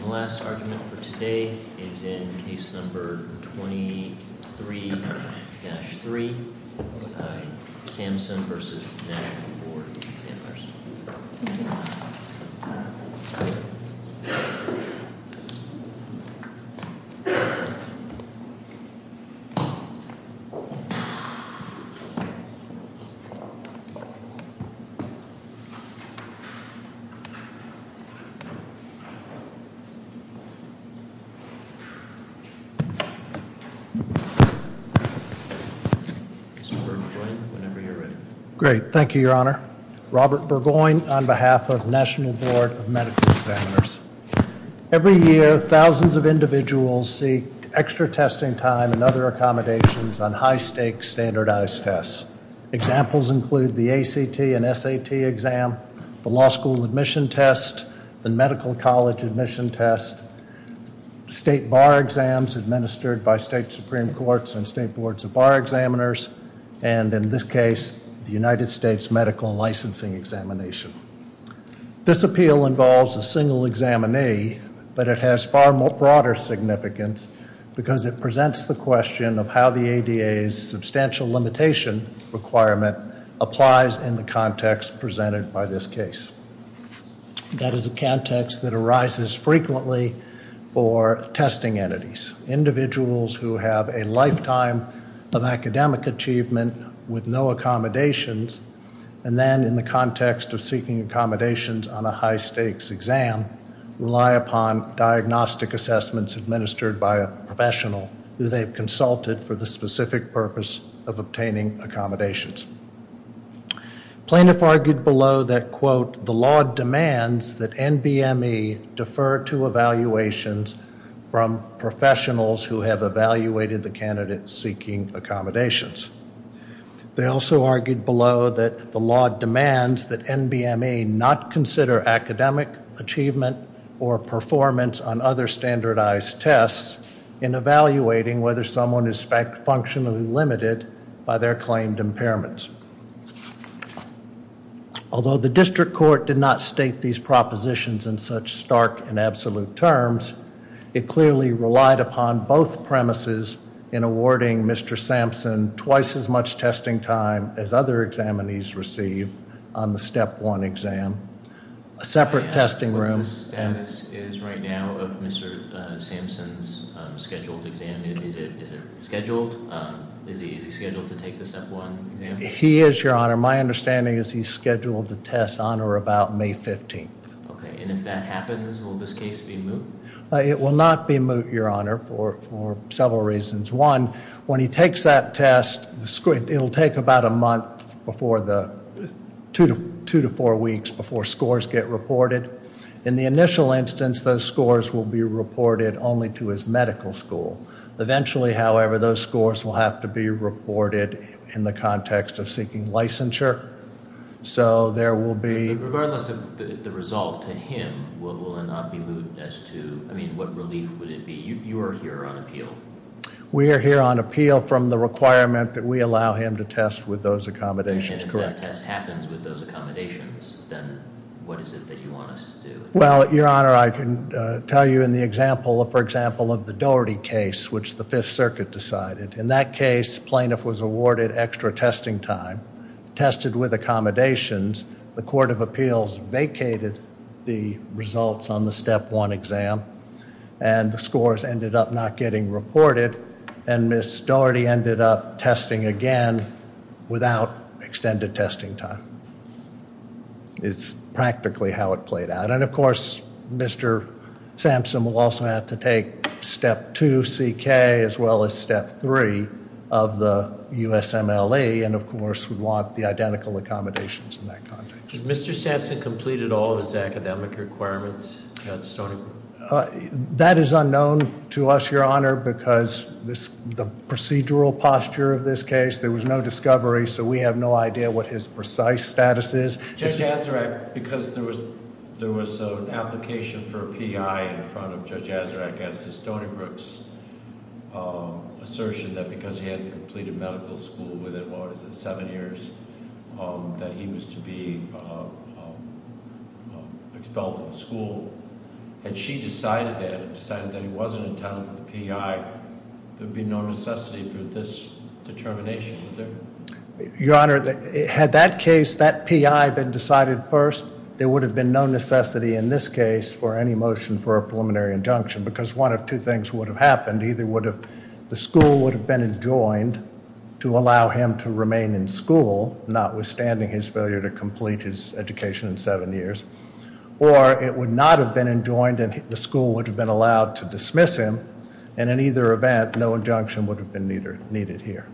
The last argument for today is in Case No. 23-3, Sampson v. National Board of Examiners. Mr. Burgoyne, whenever you're ready. Great. Thank you, Your Honor. Robert Burgoyne on behalf of National Board of Medical Examiners. Every year, thousands of individuals seek extra testing time and other accommodations on high-stakes standardized tests. Examples include the ACT and SAT exam, the law school admission test, the medical college admission test, state bar exams administered by state supreme courts and state boards of bar examiners, and in this case, the United States Medical Licensing Examination. This appeal involves a single examinee, but it has far broader significance because it presents the question of how the ADA's substantial limitation requirement applies in the context presented by this case. That is a context that arises frequently for testing entities. Individuals who have a lifetime of academic achievement with no accommodations and then in the context of seeking accommodations on a high-stakes exam rely upon diagnostic assessments administered by a professional who they've consulted for the specific purpose of obtaining accommodations. Plaintiff argued below that, quote, the law demands that NBME defer to evaluations from professionals who have evaluated the candidate seeking accommodations. They also argued below that the law demands that NBME not consider academic achievement or performance on other standardized tests in evaluating whether someone is functionally limited by their claimed impairments. Although the district court did not state these propositions in such stark and absolute terms, it clearly relied upon both premises in awarding Mr. Sampson twice as much testing time as other examinees received on the Step 1 exam, a separate testing room. The status is right now of Mr. Sampson's scheduled exam. Is it scheduled? Is he scheduled to take the Step 1 exam? He is, Your Honor. My understanding is he's scheduled to test on or about May 15th. Okay, and if that happens, will this case be moved? It will not be moved, Your Honor, for several reasons. One, when he takes that test, it will take about a month before the two to four weeks before scores get reported. In the initial instance, those scores will be reported only to his medical school. Eventually, however, those scores will have to be reported in the context of seeking licensure. So there will be... Regardless of the result to him, will it not be moved as to, I mean, what relief would it be? You are here on appeal. We are here on appeal from the requirement that we allow him to test with those accommodations. And if that test happens with those accommodations, then what is it that you want us to do? Well, Your Honor, I can tell you in the example, for example, of the Doherty case, which the Fifth Circuit decided. In that case, plaintiff was awarded extra testing time. Tested with accommodations, the Court of Appeals vacated the results on the Step 1 exam. And the scores ended up not getting reported. And Ms. Doherty ended up testing again without extended testing time. It's practically how it played out. And, of course, Mr. Sampson will also have to take Step 2CK as well as Step 3 of the USMLE. And, of course, we want the identical accommodations in that context. Has Mr. Sampson completed all of his academic requirements at Stony Brook? That is unknown to us, Your Honor, because the procedural posture of this case, there was no discovery. So we have no idea what his precise status is. Judge Azarack, because there was an application for a PI in front of Judge Azarack, as to Stony Brook's assertion that because he hadn't completed medical school within, what was it, seven years, that he was to be expelled from school. Had she decided that and decided that he wasn't entitled to the PI, there would be no necessity for this determination, would there? Your Honor, had that case, that PI, been decided first, there would have been no necessity in this case for any motion for a preliminary injunction, because one of two things would have happened. Either the school would have been adjoined to allow him to remain in school, notwithstanding his failure to complete his education in seven years, or it would not have been adjoined and the school would have been allowed to dismiss him. And in either event, no injunction would have been needed here.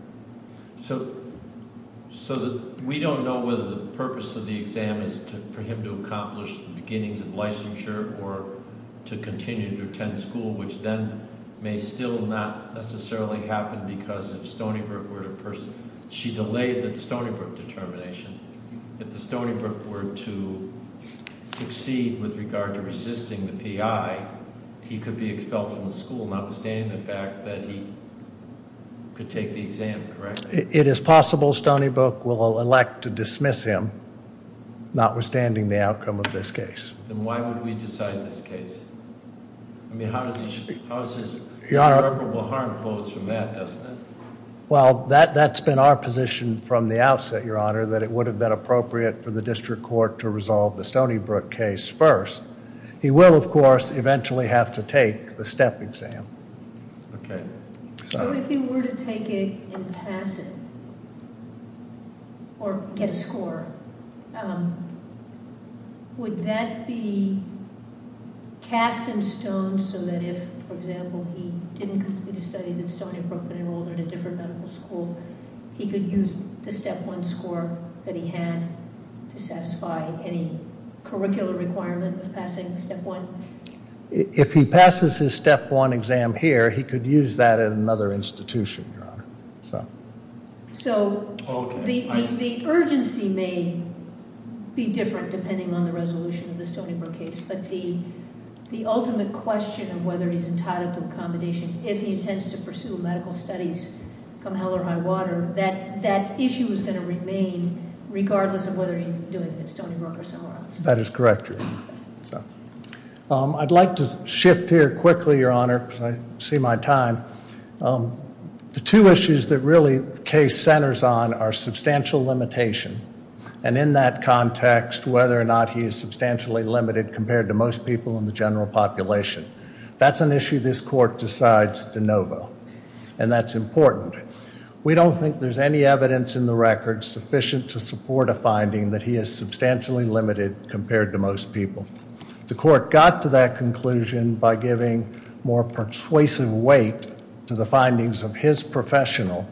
So we don't know whether the purpose of the exam is for him to accomplish the beginnings of licensure or to continue to attend school, which then may still not necessarily happen, because if Stony Brook were to, she delayed the Stony Brook determination. If the Stony Brook were to succeed with regard to resisting the PI, he could be expelled from the school, notwithstanding the fact that he could take the exam, correct? It is possible Stony Brook will elect to dismiss him, notwithstanding the outcome of this case. Then why would we decide this case? I mean, how does he, how does his irreparable harm close from that, doesn't it? Well, that's been our position from the outset, Your Honor, that it would have been appropriate for the district court to resolve the Stony Brook case first. He will, of course, eventually have to take the STEP exam. Okay. So if he were to take it and pass it or get a score, would that be cast in stone so that if, for example, he didn't complete his studies at Stony Brook but enrolled at a different medical school, he could use the STEP-1 score that he had to satisfy any curricular requirement of passing the STEP-1? If he passes his STEP-1 exam here, he could use that at another institution, Your Honor. So the urgency may be different depending on the resolution of the Stony Brook case, but the ultimate question of whether he's entitled to accommodations if he intends to pursue medical studies come hell or high water, that that issue is going to remain regardless of whether he's doing it at Stony Brook or somewhere else. That is correct, Your Honor. I'd like to shift here quickly, Your Honor, because I see my time. The two issues that really the case centers on are substantial limitation and in that context whether or not he is substantially limited compared to most people in the general population. That's an issue this Court decides de novo, and that's important. We don't think there's any evidence in the record sufficient to support a finding that he is substantially limited compared to most people. The Court got to that conclusion by giving more persuasive weight to the findings of his professional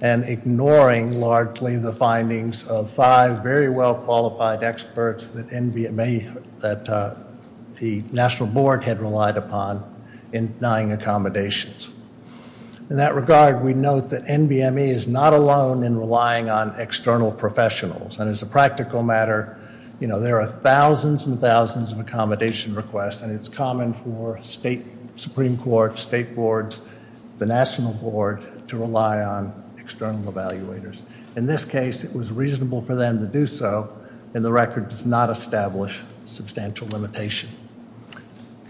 and ignoring largely the findings of five very well-qualified experts that the National Board had relied upon in denying accommodations. In that regard, we note that NBMA is not alone in relying on external professionals, and as a practical matter, you know, there are thousands and thousands of accommodation requests and it's common for state Supreme Courts, state boards, the National Board to rely on external evaluators. In this case, it was reasonable for them to do so, and the record does not establish substantial limitation.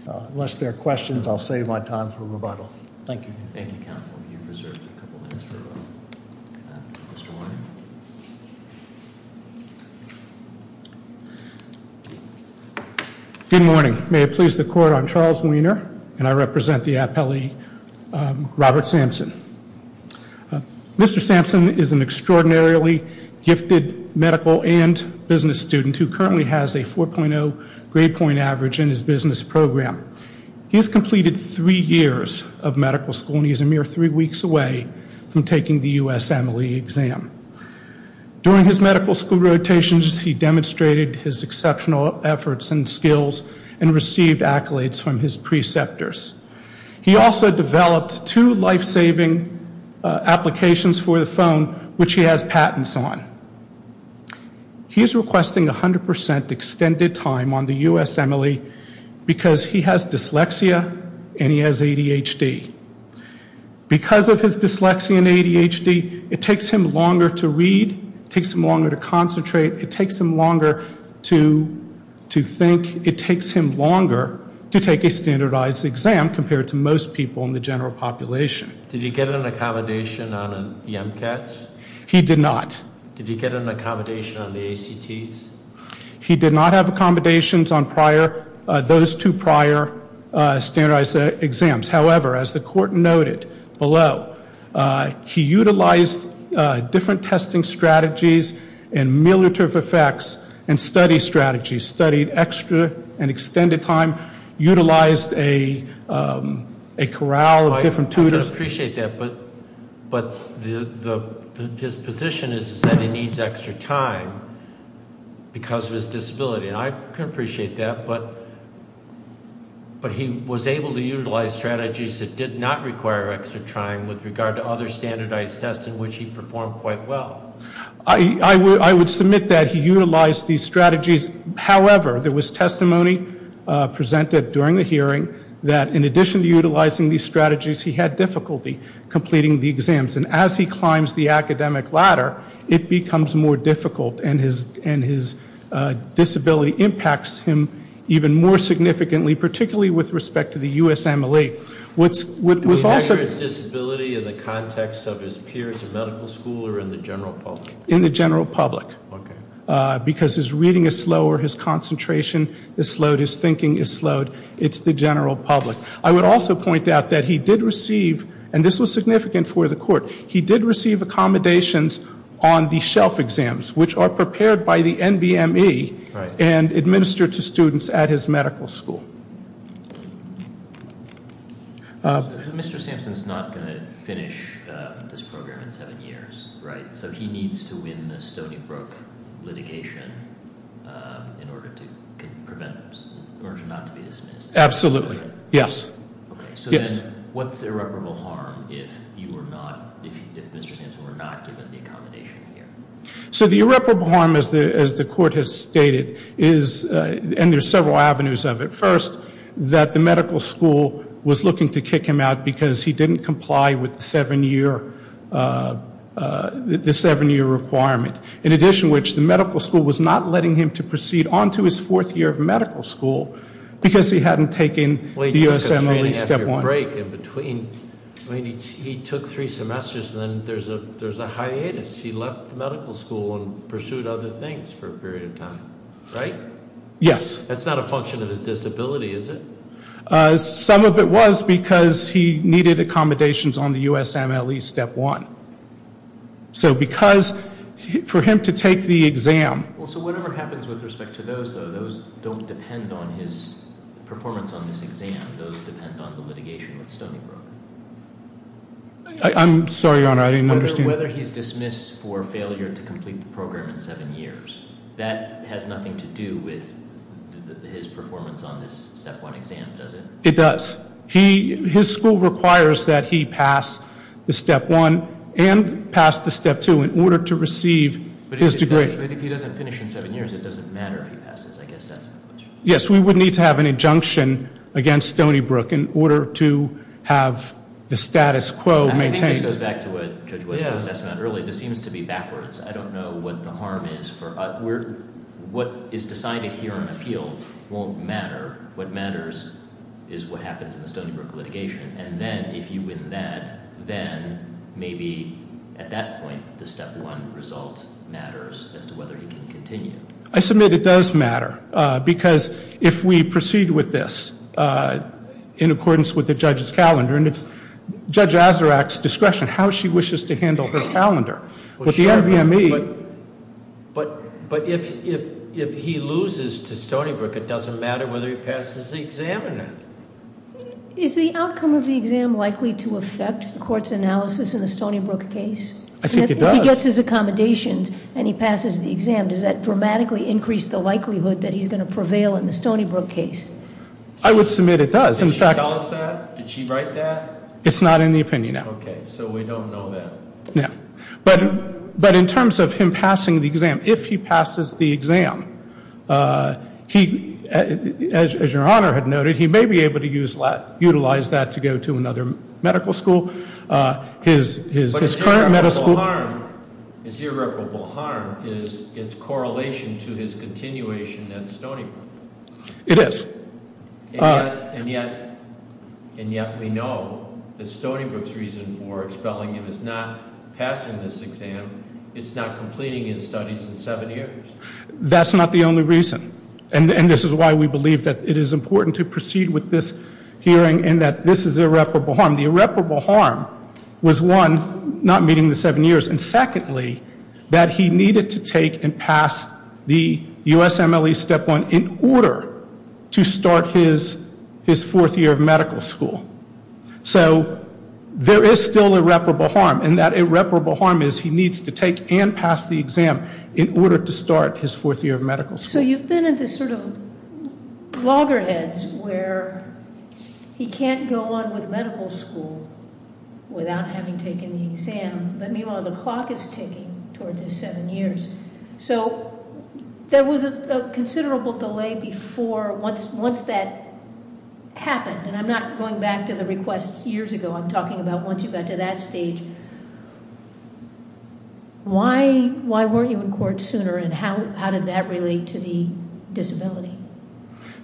Unless there are questions, I'll save my time for rebuttal. Thank you. Thank you, Counsel. You've reserved a couple minutes for Mr. Warner. Good morning. May it please the Court, I'm Charles Wiener, and I represent the appellee Robert Sampson. Mr. Sampson is an extraordinarily gifted medical and business student who currently has a 4.0 grade point average in his business program. He has completed three years of medical school and he is a mere three weeks away from taking the USMLE exam. During his medical school rotations, he demonstrated his exceptional efforts and skills and received accolades from his preceptors. He also developed two life-saving applications for the phone, which he has patents on. He is requesting 100% extended time on the USMLE because he has dyslexia and he has ADHD. Because of his dyslexia and ADHD, it takes him longer to read, it takes him longer to concentrate, it takes him longer to think, it takes him longer to take a standardized exam compared to most people in the general population. Did he get an accommodation on the MCATs? He did not. Did he get an accommodation on the ACTs? He did not have accommodations on those two prior standardized exams. However, as the court noted below, he utilized different testing strategies and military effects and study strategies, studied extra and extended time, utilized a corral of different tutors. I can appreciate that, but his position is that he needs extra time because of his disability. I can appreciate that, but he was able to utilize strategies that did not require extra time with regard to other standardized tests in which he performed quite well. I would submit that he utilized these strategies. However, there was testimony presented during the hearing that in addition to utilizing these strategies, he had difficulty completing the exams. And as he climbs the academic ladder, it becomes more difficult, and his disability impacts him even more significantly, particularly with respect to the USMLE. Would we measure his disability in the context of his peers or medical school or in the general public? In the general public. Okay. Because his reading is slower, his concentration is slowed, his thinking is slowed. It's the general public. I would also point out that he did receive, and this was significant for the court, he did receive accommodations on the shelf exams, which are prepared by the NBME and administered to students at his medical school. Mr. Sampson is not going to finish this program in seven years, right? So he needs to win the Stony Brook litigation in order to prevent, in order not to be dismissed. Absolutely. Yes. So then what's irreparable harm if you are not, if Mr. Sampson were not given the accommodation here? So the irreparable harm, as the court has stated, is, and there's several avenues of it. First, that the medical school was looking to kick him out because he didn't comply with the seven-year requirement. In addition to which, the medical school was not letting him to proceed on to his fourth year of medical school because he hadn't taken the USMLE Step 1. He took a three and a half year break in between. I mean, he took three semesters and then there's a hiatus. He left the medical school and pursued other things for a period of time, right? Yes. That's not a function of his disability, is it? Some of it was because he needed accommodations on the USMLE Step 1. So because, for him to take the exam. Well, so whatever happens with respect to those, though, those don't depend on his performance on this exam. Those depend on the litigation with Stony Brook. I'm sorry, Your Honor, I didn't understand. Whether he's dismissed for failure to complete the program in seven years, that has nothing to do with his performance on this Step 1 exam, does it? It does. His school requires that he pass the Step 1 and pass the Step 2 in order to receive his degree. But if he doesn't finish in seven years, it doesn't matter if he passes. I guess that's my question. Yes, we would need to have an injunction against Stony Brook in order to have the status quo maintained. I think this goes back to what Judge West was asking about earlier. This seems to be backwards. I don't know what the harm is. What is decided here on appeal won't matter. What matters is what happens in the Stony Brook litigation. And then if you win that, then maybe at that point the Step 1 result matters as to whether he can continue. I submit it does matter because if we proceed with this in accordance with the judge's calendar, and it's Judge Azarack's discretion how she wishes to handle her calendar. But the NBME- But if he loses to Stony Brook, it doesn't matter whether he passes the exam or not. Is the outcome of the exam likely to affect the court's analysis in the Stony Brook case? I think it does. If he gets his accommodations and he passes the exam, does that dramatically increase the likelihood that he's going to prevail in the Stony Brook case? I would submit it does. Did she tell us that? Did she write that? It's not in the opinion, no. Okay, so we don't know that. No. But in terms of him passing the exam, if he passes the exam, he, as your Honor had noted, he may be able to utilize that to go to another medical school. His current medical school- But his irreparable harm is its correlation to his continuation at Stony Brook. It is. And yet we know that Stony Brook's reason for expelling him is not passing this exam. It's not completing his studies in seven years. That's not the only reason. And this is why we believe that it is important to proceed with this hearing and that this is irreparable harm. The irreparable harm was, one, not meeting the seven years, and secondly, that he needed to take and pass the USMLE Step 1 in order to start his fourth year of medical school. So there is still irreparable harm, and that irreparable harm is he needs to take and pass the exam in order to start his fourth year of medical school. So you've been in this sort of loggerheads where he can't go on with medical school without having taken the exam, but meanwhile the clock is ticking towards his seven years. So there was a considerable delay before once that happened, and I'm not going back to the requests years ago. I'm talking about once you got to that stage. Why weren't you in court sooner, and how did that relate to the disability?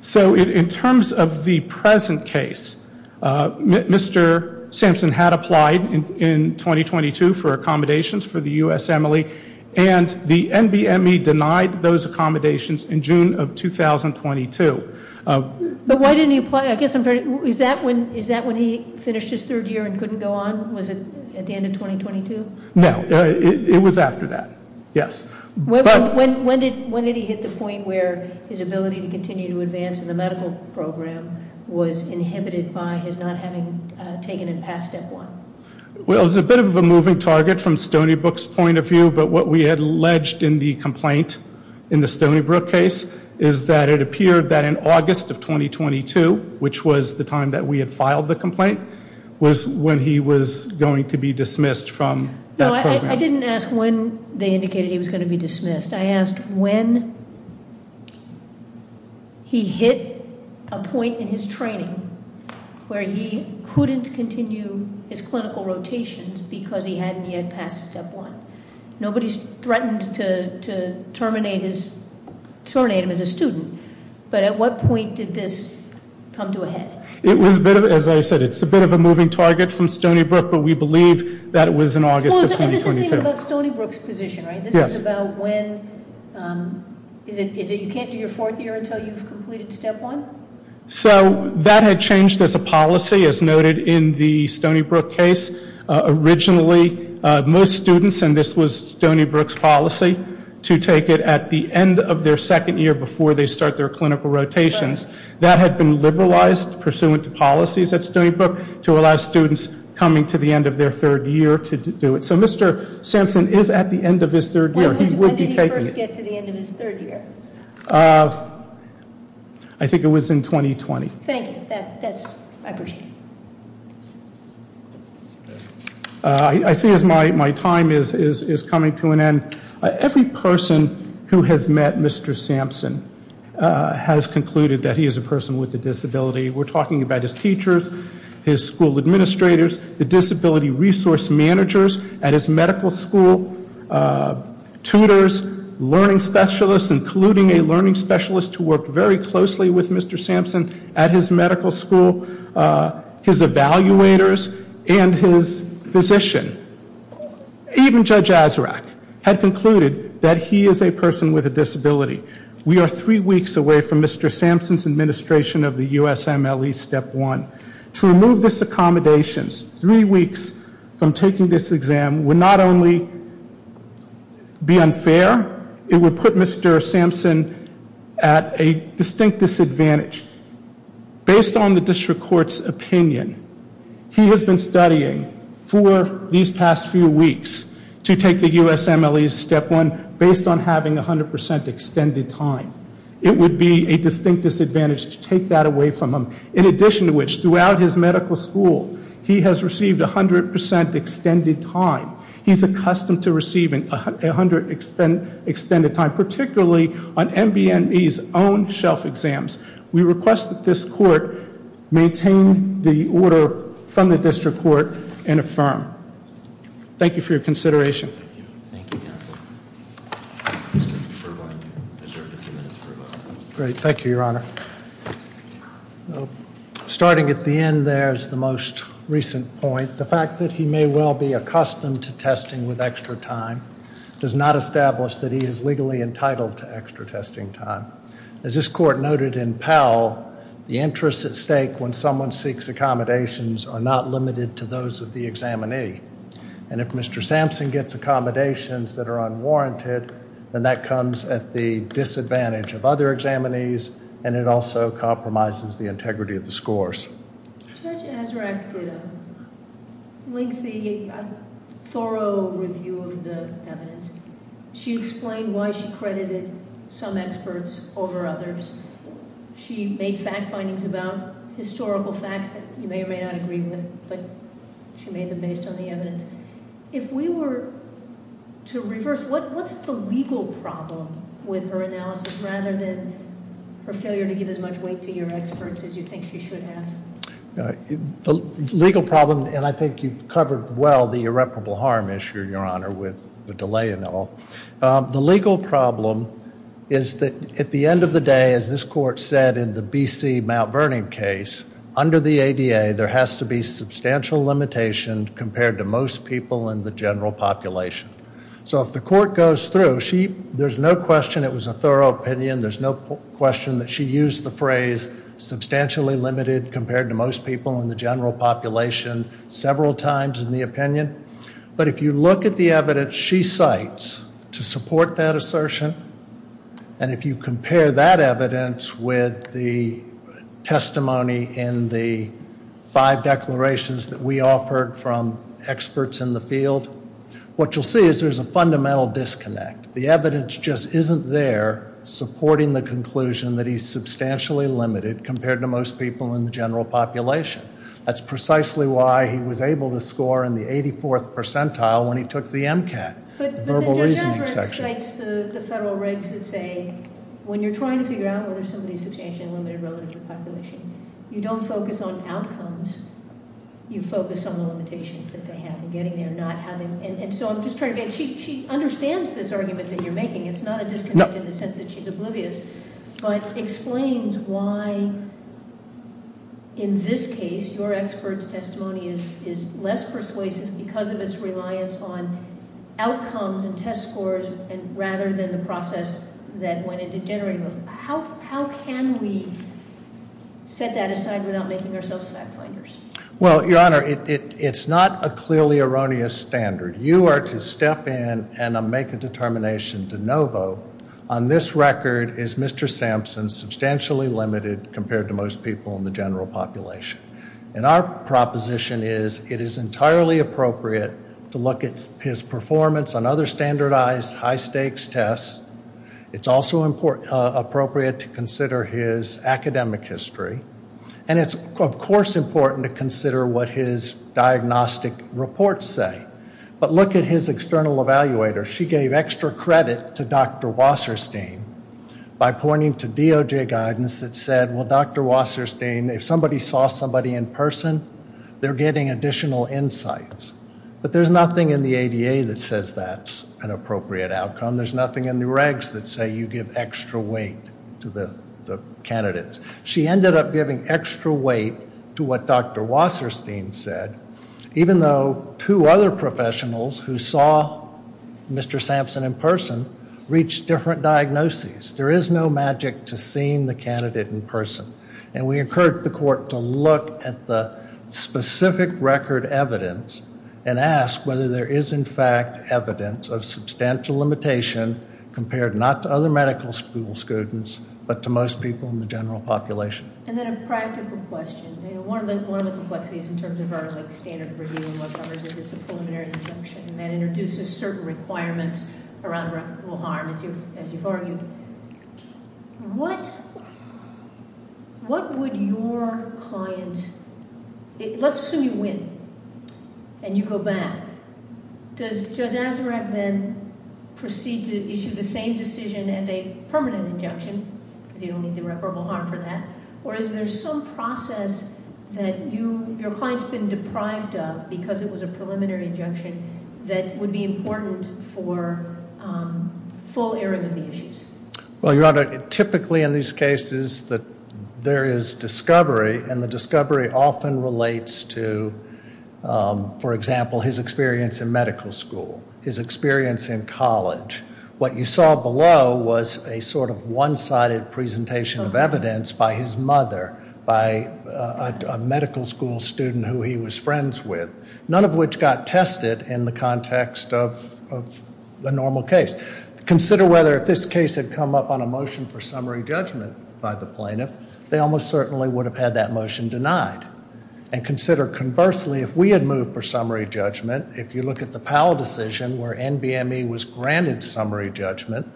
So in terms of the present case, Mr. Sampson had applied in 2022 for accommodations for the USMLE, and the NBME denied those accommodations in June of 2022. But why didn't he apply? Is that when he finished his third year and couldn't go on? Was it at the end of 2022? No, it was after that, yes. When did he hit the point where his ability to continue to advance in the medical program was inhibited by his not having taken and passed Step 1? Well, it was a bit of a moving target from Stony Brook's point of view, but what we had alleged in the complaint in the Stony Brook case is that it appeared that in August of 2022, which was the time that we had filed the complaint, was when he was going to be dismissed from that program. No, I didn't ask when they indicated he was going to be dismissed. I asked when he hit a point in his training where he couldn't continue his clinical rotations because he hadn't yet passed Step 1. Nobody's threatened to terminate him as a student, but at what point did this come to a head? It was a bit of, as I said, it's a bit of a moving target from Stony Brook, but we believe that it was in August of 2022. And this isn't even about Stony Brook's position, right? Yes. This is about when, is it you can't do your fourth year until you've completed Step 1? So that had changed as a policy, as noted in the Stony Brook case. Originally, most students, and this was Stony Brook's policy, to take it at the end of their second year before they start their clinical rotations. That had been liberalized pursuant to policies at Stony Brook to allow students coming to the end of their third year to do it. So Mr. Sampson is at the end of his third year. When did he first get to the end of his third year? I think it was in 2020. Thank you. I appreciate it. I see as my time is coming to an end. Every person who has met Mr. Sampson has concluded that he is a person with a disability. We're talking about his teachers, his school administrators, the disability resource managers at his medical school, tutors, learning specialists, including a learning specialist who worked very closely with Mr. Sampson at his medical school, his evaluators, and his physician. Even Judge Azarack had concluded that he is a person with a disability. We are three weeks away from Mr. Sampson's administration of the USMLE Step 1. To remove this accommodation three weeks from taking this exam would not only be unfair, it would put Mr. Sampson at a distinct disadvantage. Based on the district court's opinion, he has been studying for these past few weeks to take the USMLE Step 1 based on having 100% extended time. It would be a distinct disadvantage to take that away from him. In addition to which, throughout his medical school, he has received 100% extended time. He's accustomed to receiving 100% extended time, particularly on MBME's own shelf exams. We request that this court maintain the order from the district court and affirm. Thank you for your consideration. Thank you. Thank you, Your Honor. Starting at the end there is the most recent point. The fact that he may well be accustomed to testing with extra time does not establish that he is legally entitled to extra testing time. As this court noted in Powell, the interests at stake when someone seeks accommodations are not limited to those of the examinee. If Mr. Sampson gets accommodations that are unwarranted, then that comes at the disadvantage of other examinees and it also compromises the integrity of the scores. Judge Azarack did a lengthy, thorough review of the evidence. She explained why she credited some experts over others. She made fact findings about historical facts that you may or may not agree with, but she made them based on the evidence. If we were to reverse, what's the legal problem with her analysis, rather than her failure to give as much weight to your experts as you think she should have? The legal problem, and I think you've covered well the irreparable harm issue, Your Honor, with the delay and all. The legal problem is that at the end of the day, as this court said in the B.C. Mount Vernon case, under the ADA there has to be substantial limitation compared to most people in the general population. So if the court goes through, there's no question it was a thorough opinion. There's no question that she used the phrase substantially limited compared to most people in the general population several times in the opinion. But if you look at the evidence she cites to support that assertion, and if you compare that evidence with the testimony in the five declarations that we offered from experts in the field, what you'll see is there's a fundamental disconnect. The evidence just isn't there supporting the conclusion that he's substantially limited compared to most people in the general population. That's precisely why he was able to score in the 84th percentile when he took the MCAT, the verbal reasoning section. But then Judge Everett cites the federal regs that say when you're trying to figure out whether somebody is substantially limited relative to the population, you don't focus on outcomes, you focus on the limitations that they have in getting there. And so I'm just trying to get, she understands this argument that you're making, it's not a disconnect in the sense that she's oblivious, but explains why in this case your expert's testimony is less persuasive because of its reliance on outcomes and test scores rather than the process that went into generating those. How can we set that aside without making ourselves fact finders? Well, Your Honor, it's not a clearly erroneous standard. You are to step in and make a determination de novo. On this record is Mr. Sampson substantially limited compared to most people in the general population. And our proposition is it is entirely appropriate to look at his performance on other standardized high-stakes tests. It's also appropriate to consider his academic history. And it's, of course, important to consider what his diagnostic reports say. But look at his external evaluator. She gave extra credit to Dr. Wasserstein by pointing to DOJ guidance that said, well, Dr. Wasserstein, if somebody saw somebody in person, they're getting additional insights. But there's nothing in the ADA that says that's an appropriate outcome. There's nothing in the regs that say you give extra weight to the candidates. She ended up giving extra weight to what Dr. Wasserstein said, even though two other professionals who saw Mr. Sampson in person reached different diagnoses. There is no magic to seeing the candidate in person. And we encourage the court to look at the specific record evidence and ask whether there is, in fact, evidence of substantial limitation compared not to other medical school students, but to most people in the general population. And then a practical question. One of the complexities in terms of our standard review is it's a preliminary disjunction, and that introduces certain requirements around reputable harm, as you've argued. What would your client – let's assume you win and you go back. Does Judge Azzarab then proceed to issue the same decision as a permanent injunction, because you don't need the reputable harm for that, or is there some process that your client's been deprived of because it was a preliminary injunction that would be important for full airing of the issues? Well, Your Honor, typically in these cases there is discovery, and the discovery often relates to, for example, his experience in medical school, his experience in college. What you saw below was a sort of one-sided presentation of evidence by his mother, by a medical school student who he was friends with, none of which got tested in the context of the normal case. Consider whether if this case had come up on a motion for summary judgment by the plaintiff, they almost certainly would have had that motion denied. And consider, conversely, if we had moved for summary judgment, if you look at the Powell decision where NBME was granted summary judgment,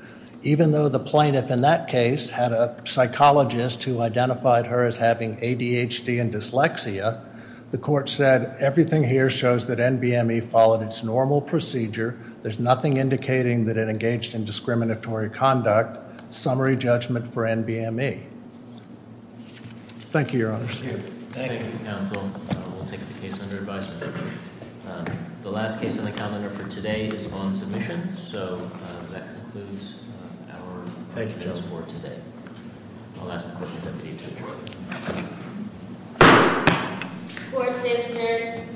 even though the plaintiff in that case had a psychologist who identified her as having ADHD and dyslexia, the court said everything here shows that NBME followed its normal procedure. There's nothing indicating that it engaged in discriminatory conduct. Summary judgment for NBME. Thank you, Your Honor. Thank you. Thank you, counsel. We'll take the case under advisement. The last case on the calendar for today is on submission. So that concludes our questions for today. I'll ask the court to deputy judge. Court is adjourned.